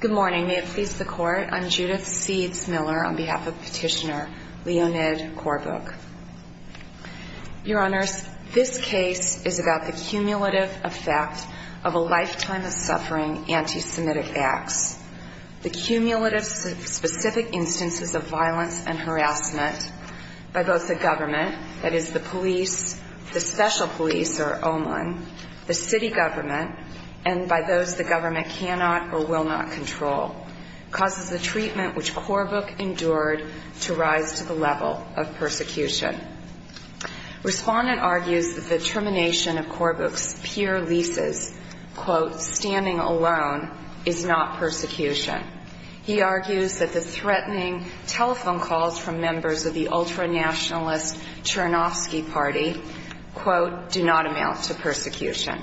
Good morning. May it please the Court, I'm Judith Seeds Miller on behalf of Petitioner Leonid Korbukh. Your Honors, this case is about the cumulative effect of a lifetime of suffering anti-Semitic acts, the cumulative specific instances of violence and harassment by both the government, that is the police, the special police or OMON, the city government, and by those the government cannot or will not control, causes the treatment which Korbukh endured to rise to the level of persecution. Respondent argues that the termination of Korbukh's peer leases, quote, standing alone, is not persecution. He argues that the threatening telephone calls from members of the ultra-nationalist Chernovsky party, quote, do not amount to persecution,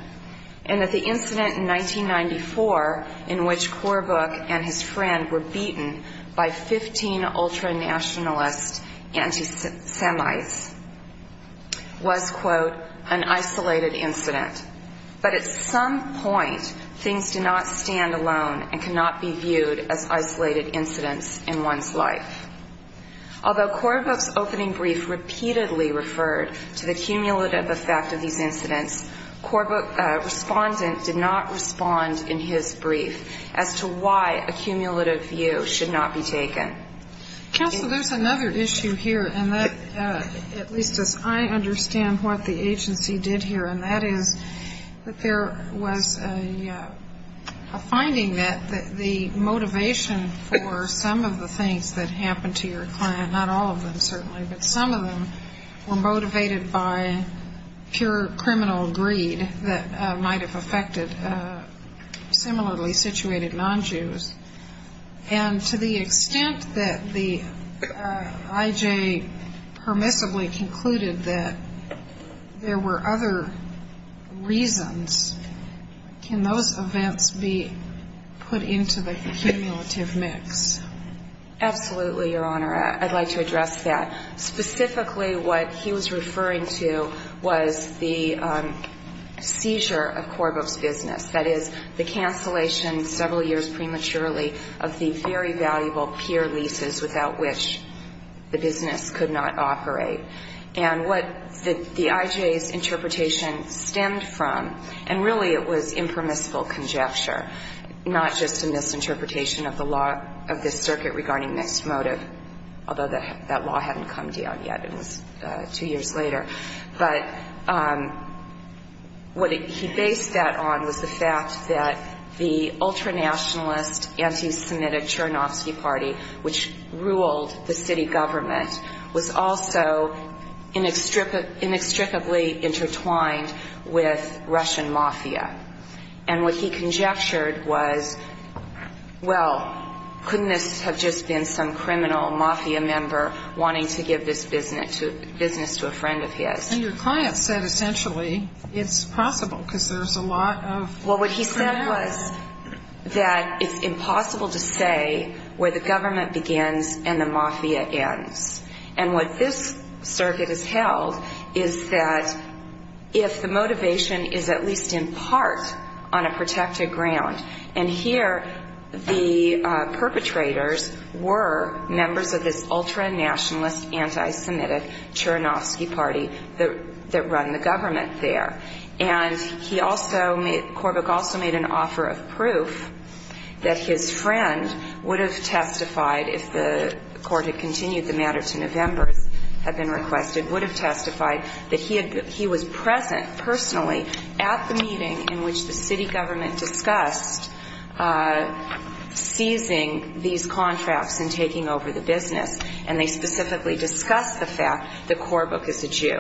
and that the incident in 1994 in which Korbukh and his friend were beaten by 15 ultra-nationalist anti-Semites was, quote, an isolated incident. But at some point, things do not stand alone and cannot be viewed as isolated incidents in one's life. Although Korbukh's opening brief repeatedly referred to the cumulative effect of these incidents, Korbukh's respondent did not respond in his brief as to why a cumulative view should not be taken. Counsel, there's another issue here, and that at least as I understand what the agency did here, and that is that there was a finding that the motivation for some of the things that happened to your client, not all of them certainly, but some of them were motivated by pure criminal greed that might have affected similarly situated non-Jews. And to the extent that the I.J. permissibly concluded that there were other reasons, can those events be put into the cumulative mix? Absolutely, Your Honor. I'd like to address that. Specifically, what he was referring to was the seizure of Korbukh's business, that is, the cancellation several years prematurely of the very valuable peer leases without which the business could not operate. And what the I.J.'s interpretation stemmed from, and really it was impermissible conjecture, not just a misinterpretation of the law of this circuit regarding mixed motive, although that law hadn't come down yet, it was two years later. But what he based that on was the fact that the ultra-nationalist, anti-Semitic Chernovsky Party, which ruled the city government, was also inextricably intertwined with Russian mafia. And what he conjectured was, well, couldn't this have just been some criminal mafia member wanting to give this business to a friend of his? And your client said essentially it's possible because there's a lot of criminality. Well, what he said was that it's impossible to say where the government begins and the mafia ends. And what this circuit has held is that if the motivation is at least in part on a protected ground, and here the perpetrators were members of this ultra-nationalist, anti-Semitic Chernovsky Party that run the government there. And he also made – Korbuch also made an offer of proof that his friend would have testified if the court had continued the matter to November, had been requested, would have testified that he was present personally at the meeting in which the city government discussed seizing these contracts and taking over the business. And they specifically discussed the fact that Korbuch is a Jew.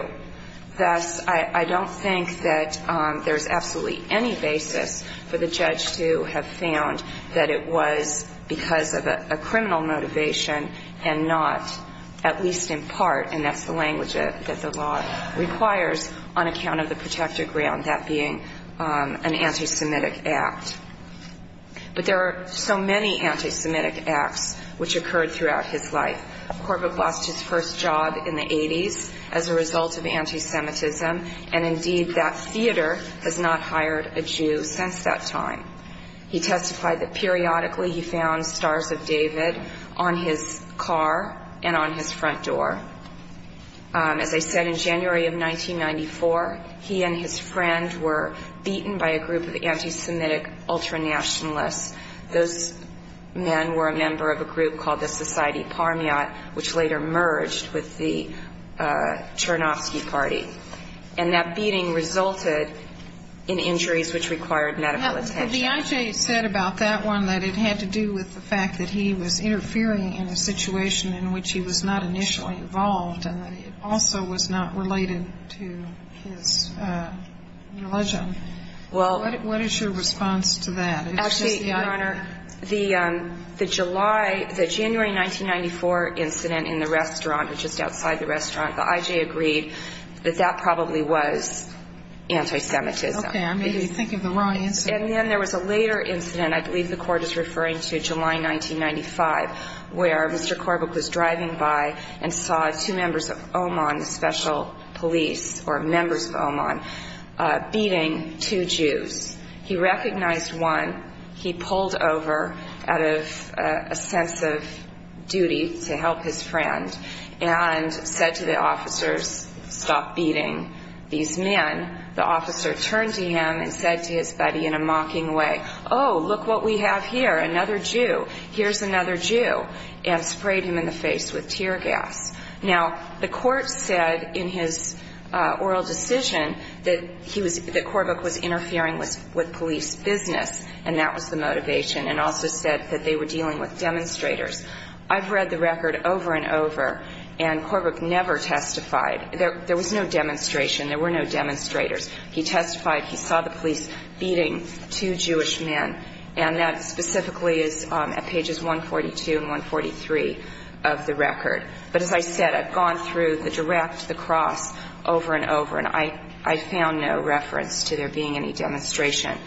Thus, I don't think that there's absolutely any basis for the judge to have found that it was because of a criminal motivation and not at least in part, and that's the language that the law requires on account of the protected ground, that being an anti-Semitic act. But there are so many anti-Semitic acts which occurred throughout his life. Korbuch lost his first job in the 80s as a result of anti-Semitism, and indeed that theater has not hired a Jew since that time. He testified that periodically he found Stars of David on his car and on his front door. As I said, in January of 1994, he and his friend were beaten by a group of anti-Semitic ultra-nationalists. Those men were a member of a group called the Society Parmiat, which later merged with the Chernovsky Party. And that beating resulted in injuries which required medical attention. The I.J. said about that one that it had to do with the fact that he was interfering in a situation in which he was not initially involved and that it also was not related to his religion. What is your response to that? Actually, Your Honor, the January 1994 incident in the restaurant or just outside the restaurant, the I.J. agreed that that probably was anti-Semitism. Okay. Your Honor, maybe you're thinking of the wrong incident. And then there was a later incident, I believe the Court is referring to July 1995, where Mr. Korbuch was driving by and saw two members of Oman, special police or members of Oman, beating two Jews. He recognized one. He pulled over out of a sense of duty to help his friend and said to the officers, stop beating these men. The officer turned to him and said to his buddy in a mocking way, oh, look what we have here, another Jew. Here's another Jew, and sprayed him in the face with tear gas. Now, the Court said in his oral decision that Korbuch was interfering with police business, and that was the motivation, and also said that they were dealing with demonstrators. I've read the record over and over, and Korbuch never testified. There was no demonstration. There were no demonstrators. He testified. He saw the police beating two Jewish men, and that specifically is at pages 142 and 143 of the record. But as I said, I've gone through the direct, the cross, over and over, and I found no reference to there being any demonstration.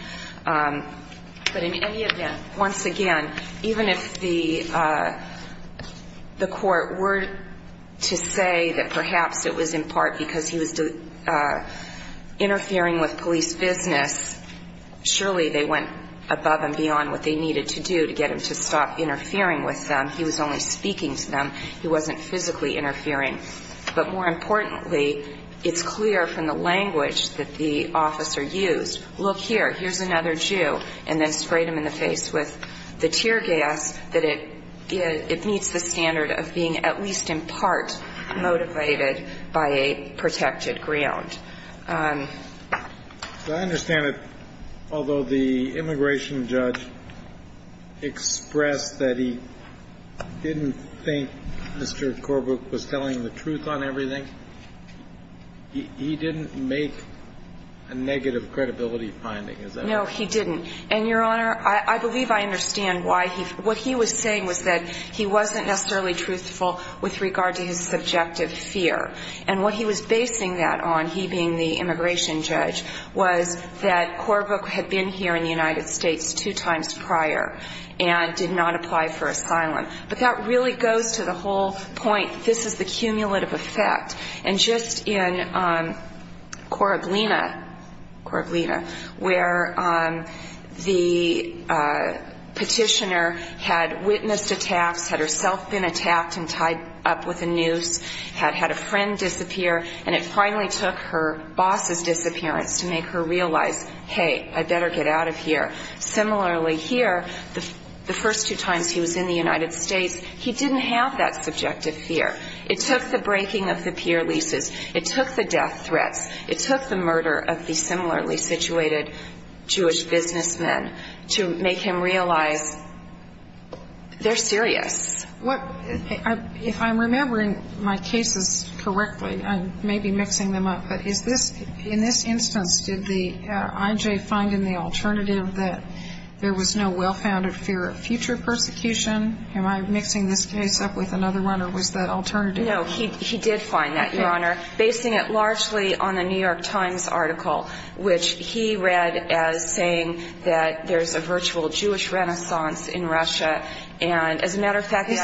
But in any event, once again, even if the Court were to say that perhaps it was in part because he was interfering with police business, surely they went above and beyond what they needed to do to get him to stop interfering with them. He was only speaking to them. He wasn't physically interfering. But more importantly, it's clear from the language that the officer used, look here, here's another Jew, and then sprayed him in the face with the tear gas, that it meets the standard of being at least in part motivated by a protected ground. I understand that although the immigration judge expressed that he didn't think Mr. Korbuch was telling the truth on everything, he didn't make a negative credibility finding, is that right? No, he didn't. And, Your Honor, I believe I understand why he, what he was saying was that he wasn't necessarily truthful with regard to his subjective fear. And what he was basing that on, he being the immigration judge, was that Korbuch had been here in the United States two times prior and did not apply for asylum. But that really goes to the whole point, this is the cumulative effect. And just in Korablina, Korablina, where the petitioner had witnessed attacks, had herself been attacked and tied up with a noose, had had a friend disappear, and it finally took her boss's disappearance to make her realize, hey, I better get out of here. Similarly, here, the first two times he was in the United States, he didn't have that subjective fear. It took the breaking of the peer leases. It took the death threats. It took the murder of the similarly situated Jewish businessmen to make him realize they're serious. What, if I'm remembering my cases correctly, I may be mixing them up, but in this instance, did the I.J. find in the alternative that there was no well-founded fear of future persecution? Am I mixing this case up with another one, or was that alternative? No, he did find that, Your Honor, basing it largely on the New York Times article, which he read as saying that there's a virtual Jewish renaissance in Russia. And as a matter of fact, the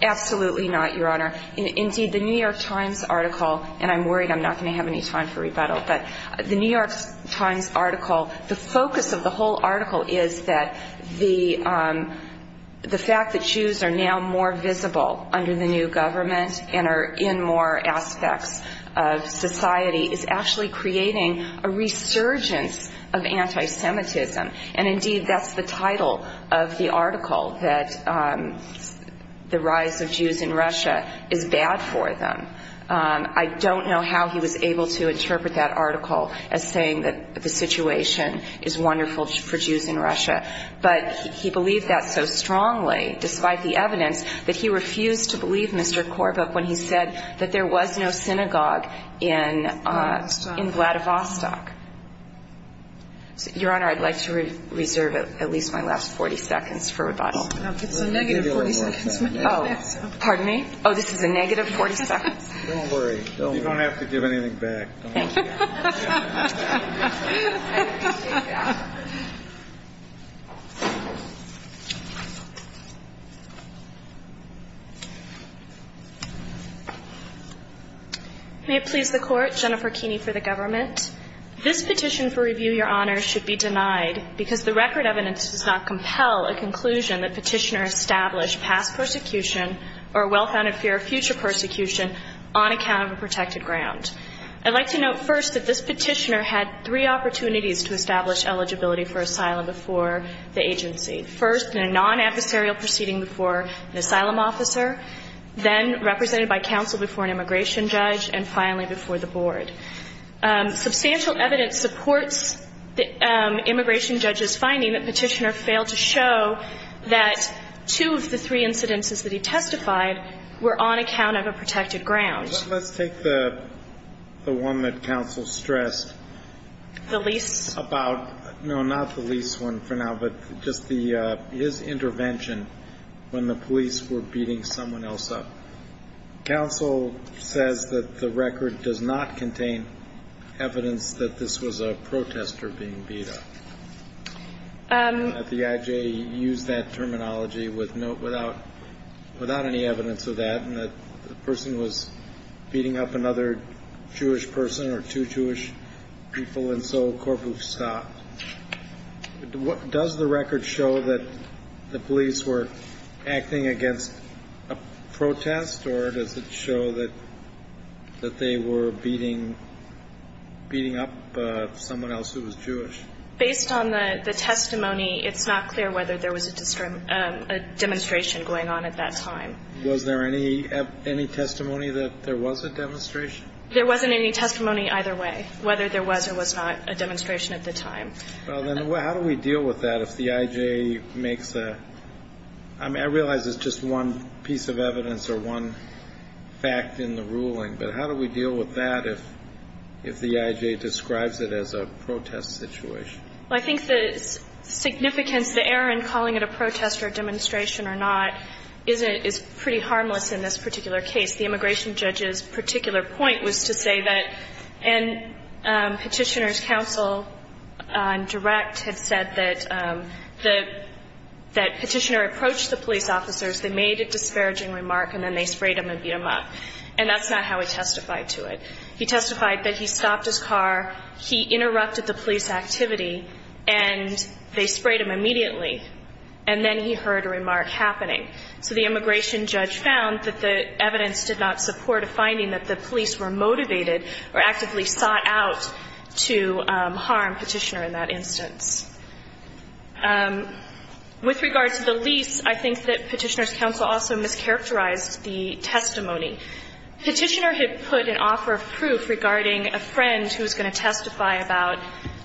I.J. Absolutely not, Your Honor. Indeed, the New York Times article, and I'm worried I'm not going to have any time for rebuttal, but the New York Times article, the focus of the whole article is that the fact that Jews are now more visible under the new government and are in more aspects of society is actually creating a resurgence of anti-Semitism. And indeed, that's the title of the article, that the rise of Jews in Russia is bad for them. I don't know how he was able to interpret that article as saying that the situation is wonderful for Jews in Russia, but he believed that so strongly, despite the evidence, that he refused to believe Mr. Korbuch when he said that there was no synagogue in Vladivostok. Your Honor, I'd like to reserve at least my last 40 seconds for rebuttal. No, it's a negative 40 seconds. Oh, pardon me? Oh, this is a negative 40 seconds? Don't worry. You don't have to give anything back. Thank you. May it please the Court, Jennifer Keeney for the government. This petition for review, Your Honor, should be denied because the record evidence does not compel a conclusion that petitioner established past persecution or a well-founded fear of future persecution on account of a protected ground. I'd like to note first that this petitioner had three opportunities to establish eligibility for asylum before the agency. First, in a non-adversarial proceeding before an asylum officer, then represented by counsel before an immigration judge, and finally before the board. Substantial evidence supports the immigration judge's finding that petitioner failed to show that two of the three incidences that he testified were on account of a protected ground. Let's take the one that counsel stressed. The least? No, not the least one for now, but just his intervention when the police were beating someone else up. Counsel says that the record does not contain evidence that this was a protester being beat up. The IJ used that terminology without any evidence of that, and that the person was beating up another Jewish person or two Jewish people, and so Corpus stopped. Does the record show that the police were acting against a protest, or does it show that they were beating up someone else who was Jewish? Based on the testimony, it's not clear whether there was a demonstration going on at that time. Was there any testimony that there was a demonstration? There wasn't any testimony either way, whether there was or was not a demonstration at the time. Well, then how do we deal with that if the IJ makes a – I mean, I realize it's just one piece of evidence or one fact in the ruling, but how do we deal with that if the IJ describes it as a protest situation? Well, I think the significance, the error in calling it a protest or a demonstration or not, is pretty harmless in this particular case. The immigration judge's particular point was to say that, and Petitioner's counsel on direct had said that Petitioner approached the police officers, they made a disparaging remark, and then they sprayed him and beat him up. And that's not how he testified to it. He testified that he stopped his car, he interrupted the police activity, and they sprayed him immediately, and then he heard a remark happening. So the immigration judge found that the evidence did not support a finding that the police were motivated or actively sought out to harm Petitioner in that instance. With regard to the lease, I think that Petitioner's counsel also mischaracterized the testimony. Petitioner had put an offer of proof regarding a friend who was going to testify about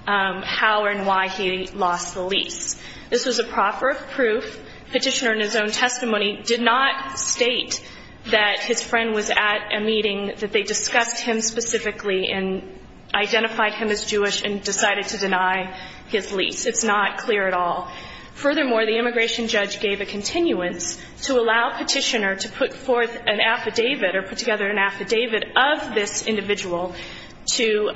how and why he lost the lease. This was a proffer of proof. Petitioner, in his own testimony, did not state that his friend was at a meeting, that they discussed him specifically and identified him as Jewish and decided to deny his lease. It's not clear at all. Furthermore, the immigration judge gave a continuance to allow Petitioner to put forth an affidavit or put together an affidavit of this individual to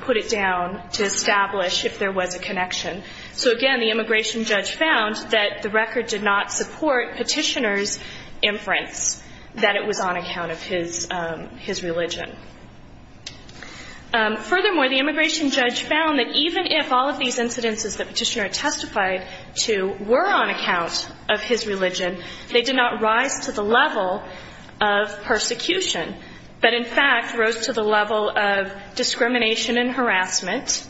put it down, to establish if there was a connection. So, again, the immigration judge found that the record did not support Petitioner's inference that it was on account of his religion. Furthermore, the immigration judge found that even if all of these incidences that Petitioner testified to were on account of his religion, they did not rise to the level of persecution, but, in fact, rose to the level of discrimination and harassment.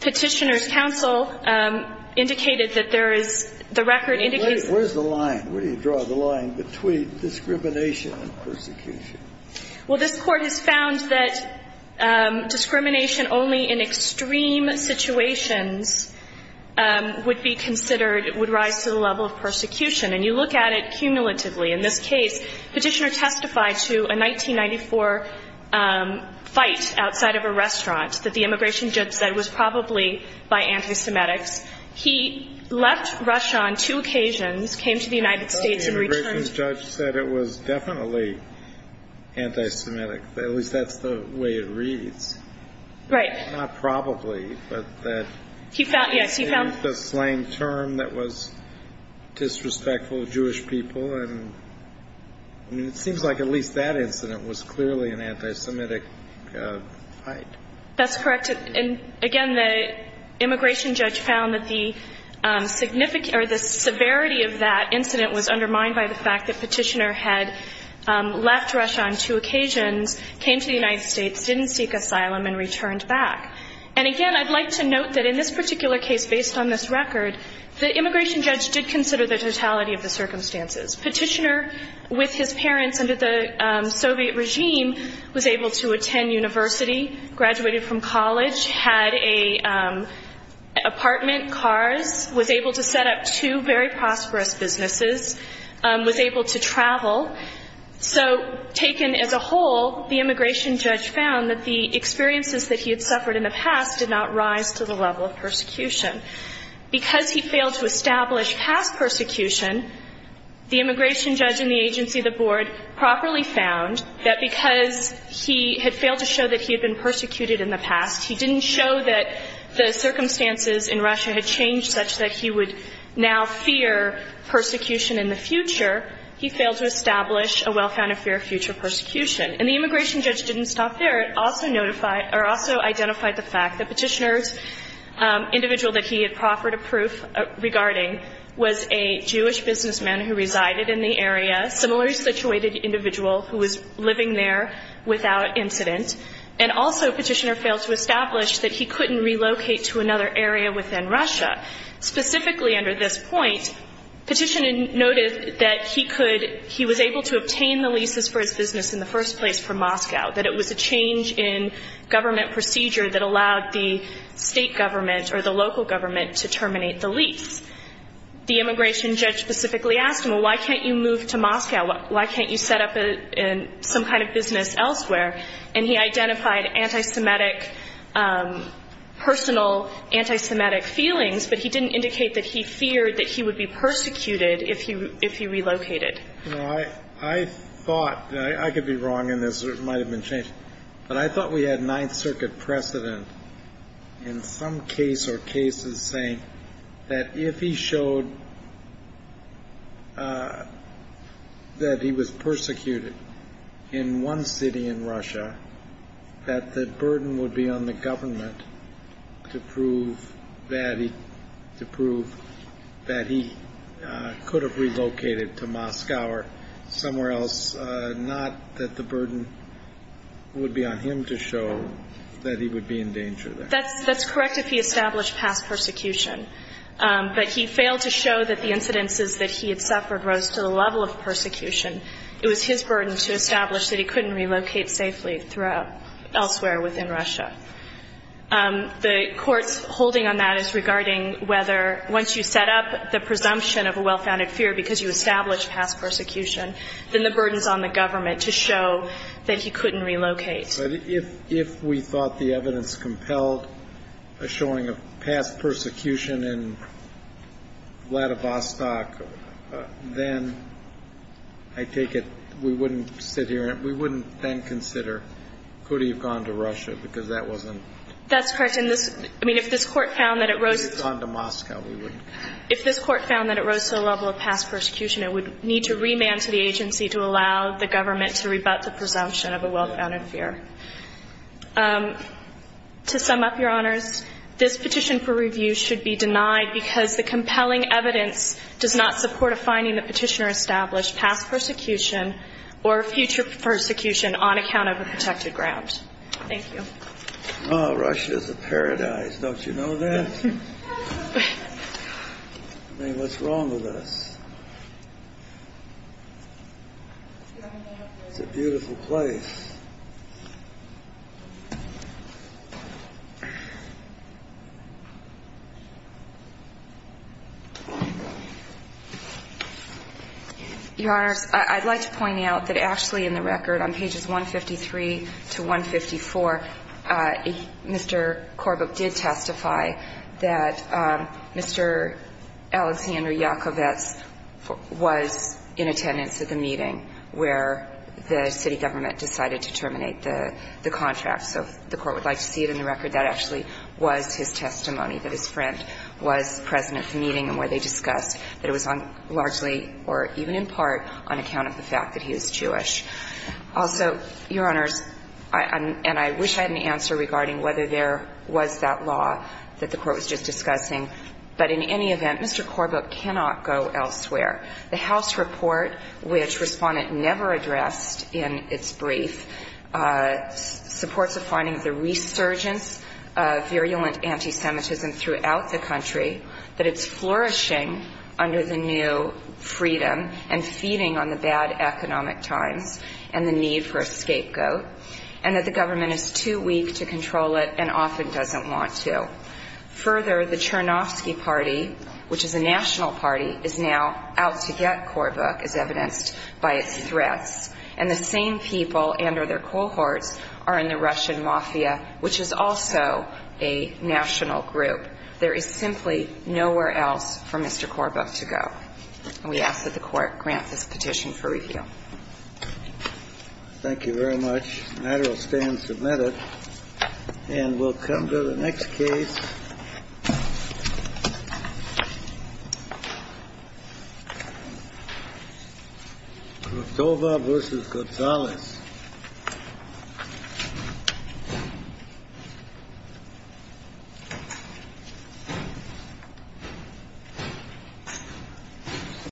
Petitioner's counsel indicated that there is the record indicates that. Where is the line? Where do you draw the line between discrimination and persecution? Well, this Court has found that discrimination only in extreme situations would be considered would rise to the level of persecution, and you look at it cumulatively. In this case, Petitioner testified to a 1994 fight outside of a restaurant, that the immigration judge said was probably by anti-Semitics. He left Russia on two occasions, came to the United States and returned. I thought the immigration judge said it was definitely anti-Semitic. At least that's the way it reads. Right. Not probably, but that. He found, yes, he found. I understand the slang term that was disrespectful to Jewish people, and it seems like at least that incident was clearly an anti-Semitic fight. That's correct. And, again, the immigration judge found that the severity of that incident was undermined by the fact that Petitioner had left Russia on two occasions, came to the United States, didn't seek asylum, and returned back. And, again, I'd like to note that in this particular case, based on this record, the immigration judge did consider the totality of the circumstances. Petitioner, with his parents under the Soviet regime, was able to attend university, graduated from college, had an apartment, cars, was able to set up two very prosperous businesses, was able to travel. So taken as a whole, the immigration judge found that the experiences that he had suffered in the past did not rise to the level of persecution. Because he failed to establish past persecution, the immigration judge and the agency of the board properly found that because he had failed to show that he had been persecuted in the past, he didn't show that the circumstances in Russia had changed such that he would now fear persecution in the future, he failed to establish a well-founded fear of future persecution. And the immigration judge didn't stop there. It also identified the fact that Petitioner's individual that he had proffered a proof regarding was a Jewish businessman who resided in the area, similarly situated individual who was living there without incident, and also Petitioner failed to establish that he couldn't relocate to another area within Russia. Specifically under this point, Petitioner noted that he could, he was able to obtain the leases for his business in the first place from Moscow, that it was a change in government procedure that allowed the state government or the local government to terminate the lease. The immigration judge specifically asked him, well, why can't you move to Moscow? Why can't you set up some kind of business elsewhere? And he identified antisemitic, personal antisemitic feelings, but he didn't indicate that he feared that he would be persecuted if he relocated. I thought, and I could be wrong in this or it might have been changed, but I thought we had Ninth Circuit precedent in some case or cases saying that if he showed that he was persecuted in one city in Russia, that the burden would be on the government to prove that he could have relocated to Moscow or somewhere else, not that the burden would be on him to show that he would be in danger there. That's correct if he established past persecution. But he failed to show that the incidences that he had suffered rose to the level of persecution. It was his burden to establish that he couldn't relocate safely throughout elsewhere within Russia. The Court's holding on that is regarding whether once you set up the presumption of a well-founded fear because you established past persecution, then the burden is on the government to show that he couldn't relocate. But if we thought the evidence compelled a showing of past persecution in Vladivostok, then I take it we wouldn't sit here and we wouldn't then consider could he have gone to Russia because that wasn't. That's correct. And this, I mean, if this Court found that it rose to the level of past persecution, it would need to remand to the agency to allow the government to rebut the presumption of a well-founded fear. To sum up, Your Honors, this petition for review should be denied because the compelling evidence does not support a finding the petitioner established past persecution or future persecution on account of a protected ground. Thank you. Oh, Russia's a paradise. Don't you know that? I mean, what's wrong with us? It's a beautiful place. Your Honors, I'd like to point out that actually in the record on pages 153 to 154, Mr. Corbett did testify that Mr. Alexander Yakovets was in attendance at the meeting where the city government decided to terminate the contract. So if the Court would like to see it in the record, that actually was his testimony, that his friend was present at the meeting and where they discussed that it was largely or even in part on account of the fact that he was Jewish. Also, Your Honors, and I wish I had an answer regarding whether there was that law that the Court was just discussing, but in any event, Mr. Corbett cannot go elsewhere. The House report, which Respondent never addressed in its brief, supports a finding of the resurgence of virulent anti-Semitism throughout the country, that it's flourishing under the new freedom and feeding on the bad economic times. And the need for a scapegoat, and that the government is too weak to control it and often doesn't want to. Further, the Chernovsky party, which is a national party, is now out to get Corbett, as evidenced by its threats. And the same people and their cohorts are in the Russian mafia, which is also a national group. There is simply nowhere else for Mr. Corbett to go. And we ask that the Court grant this petition for review. Thank you very much. The matter will stand submitted. And we'll come to the next case.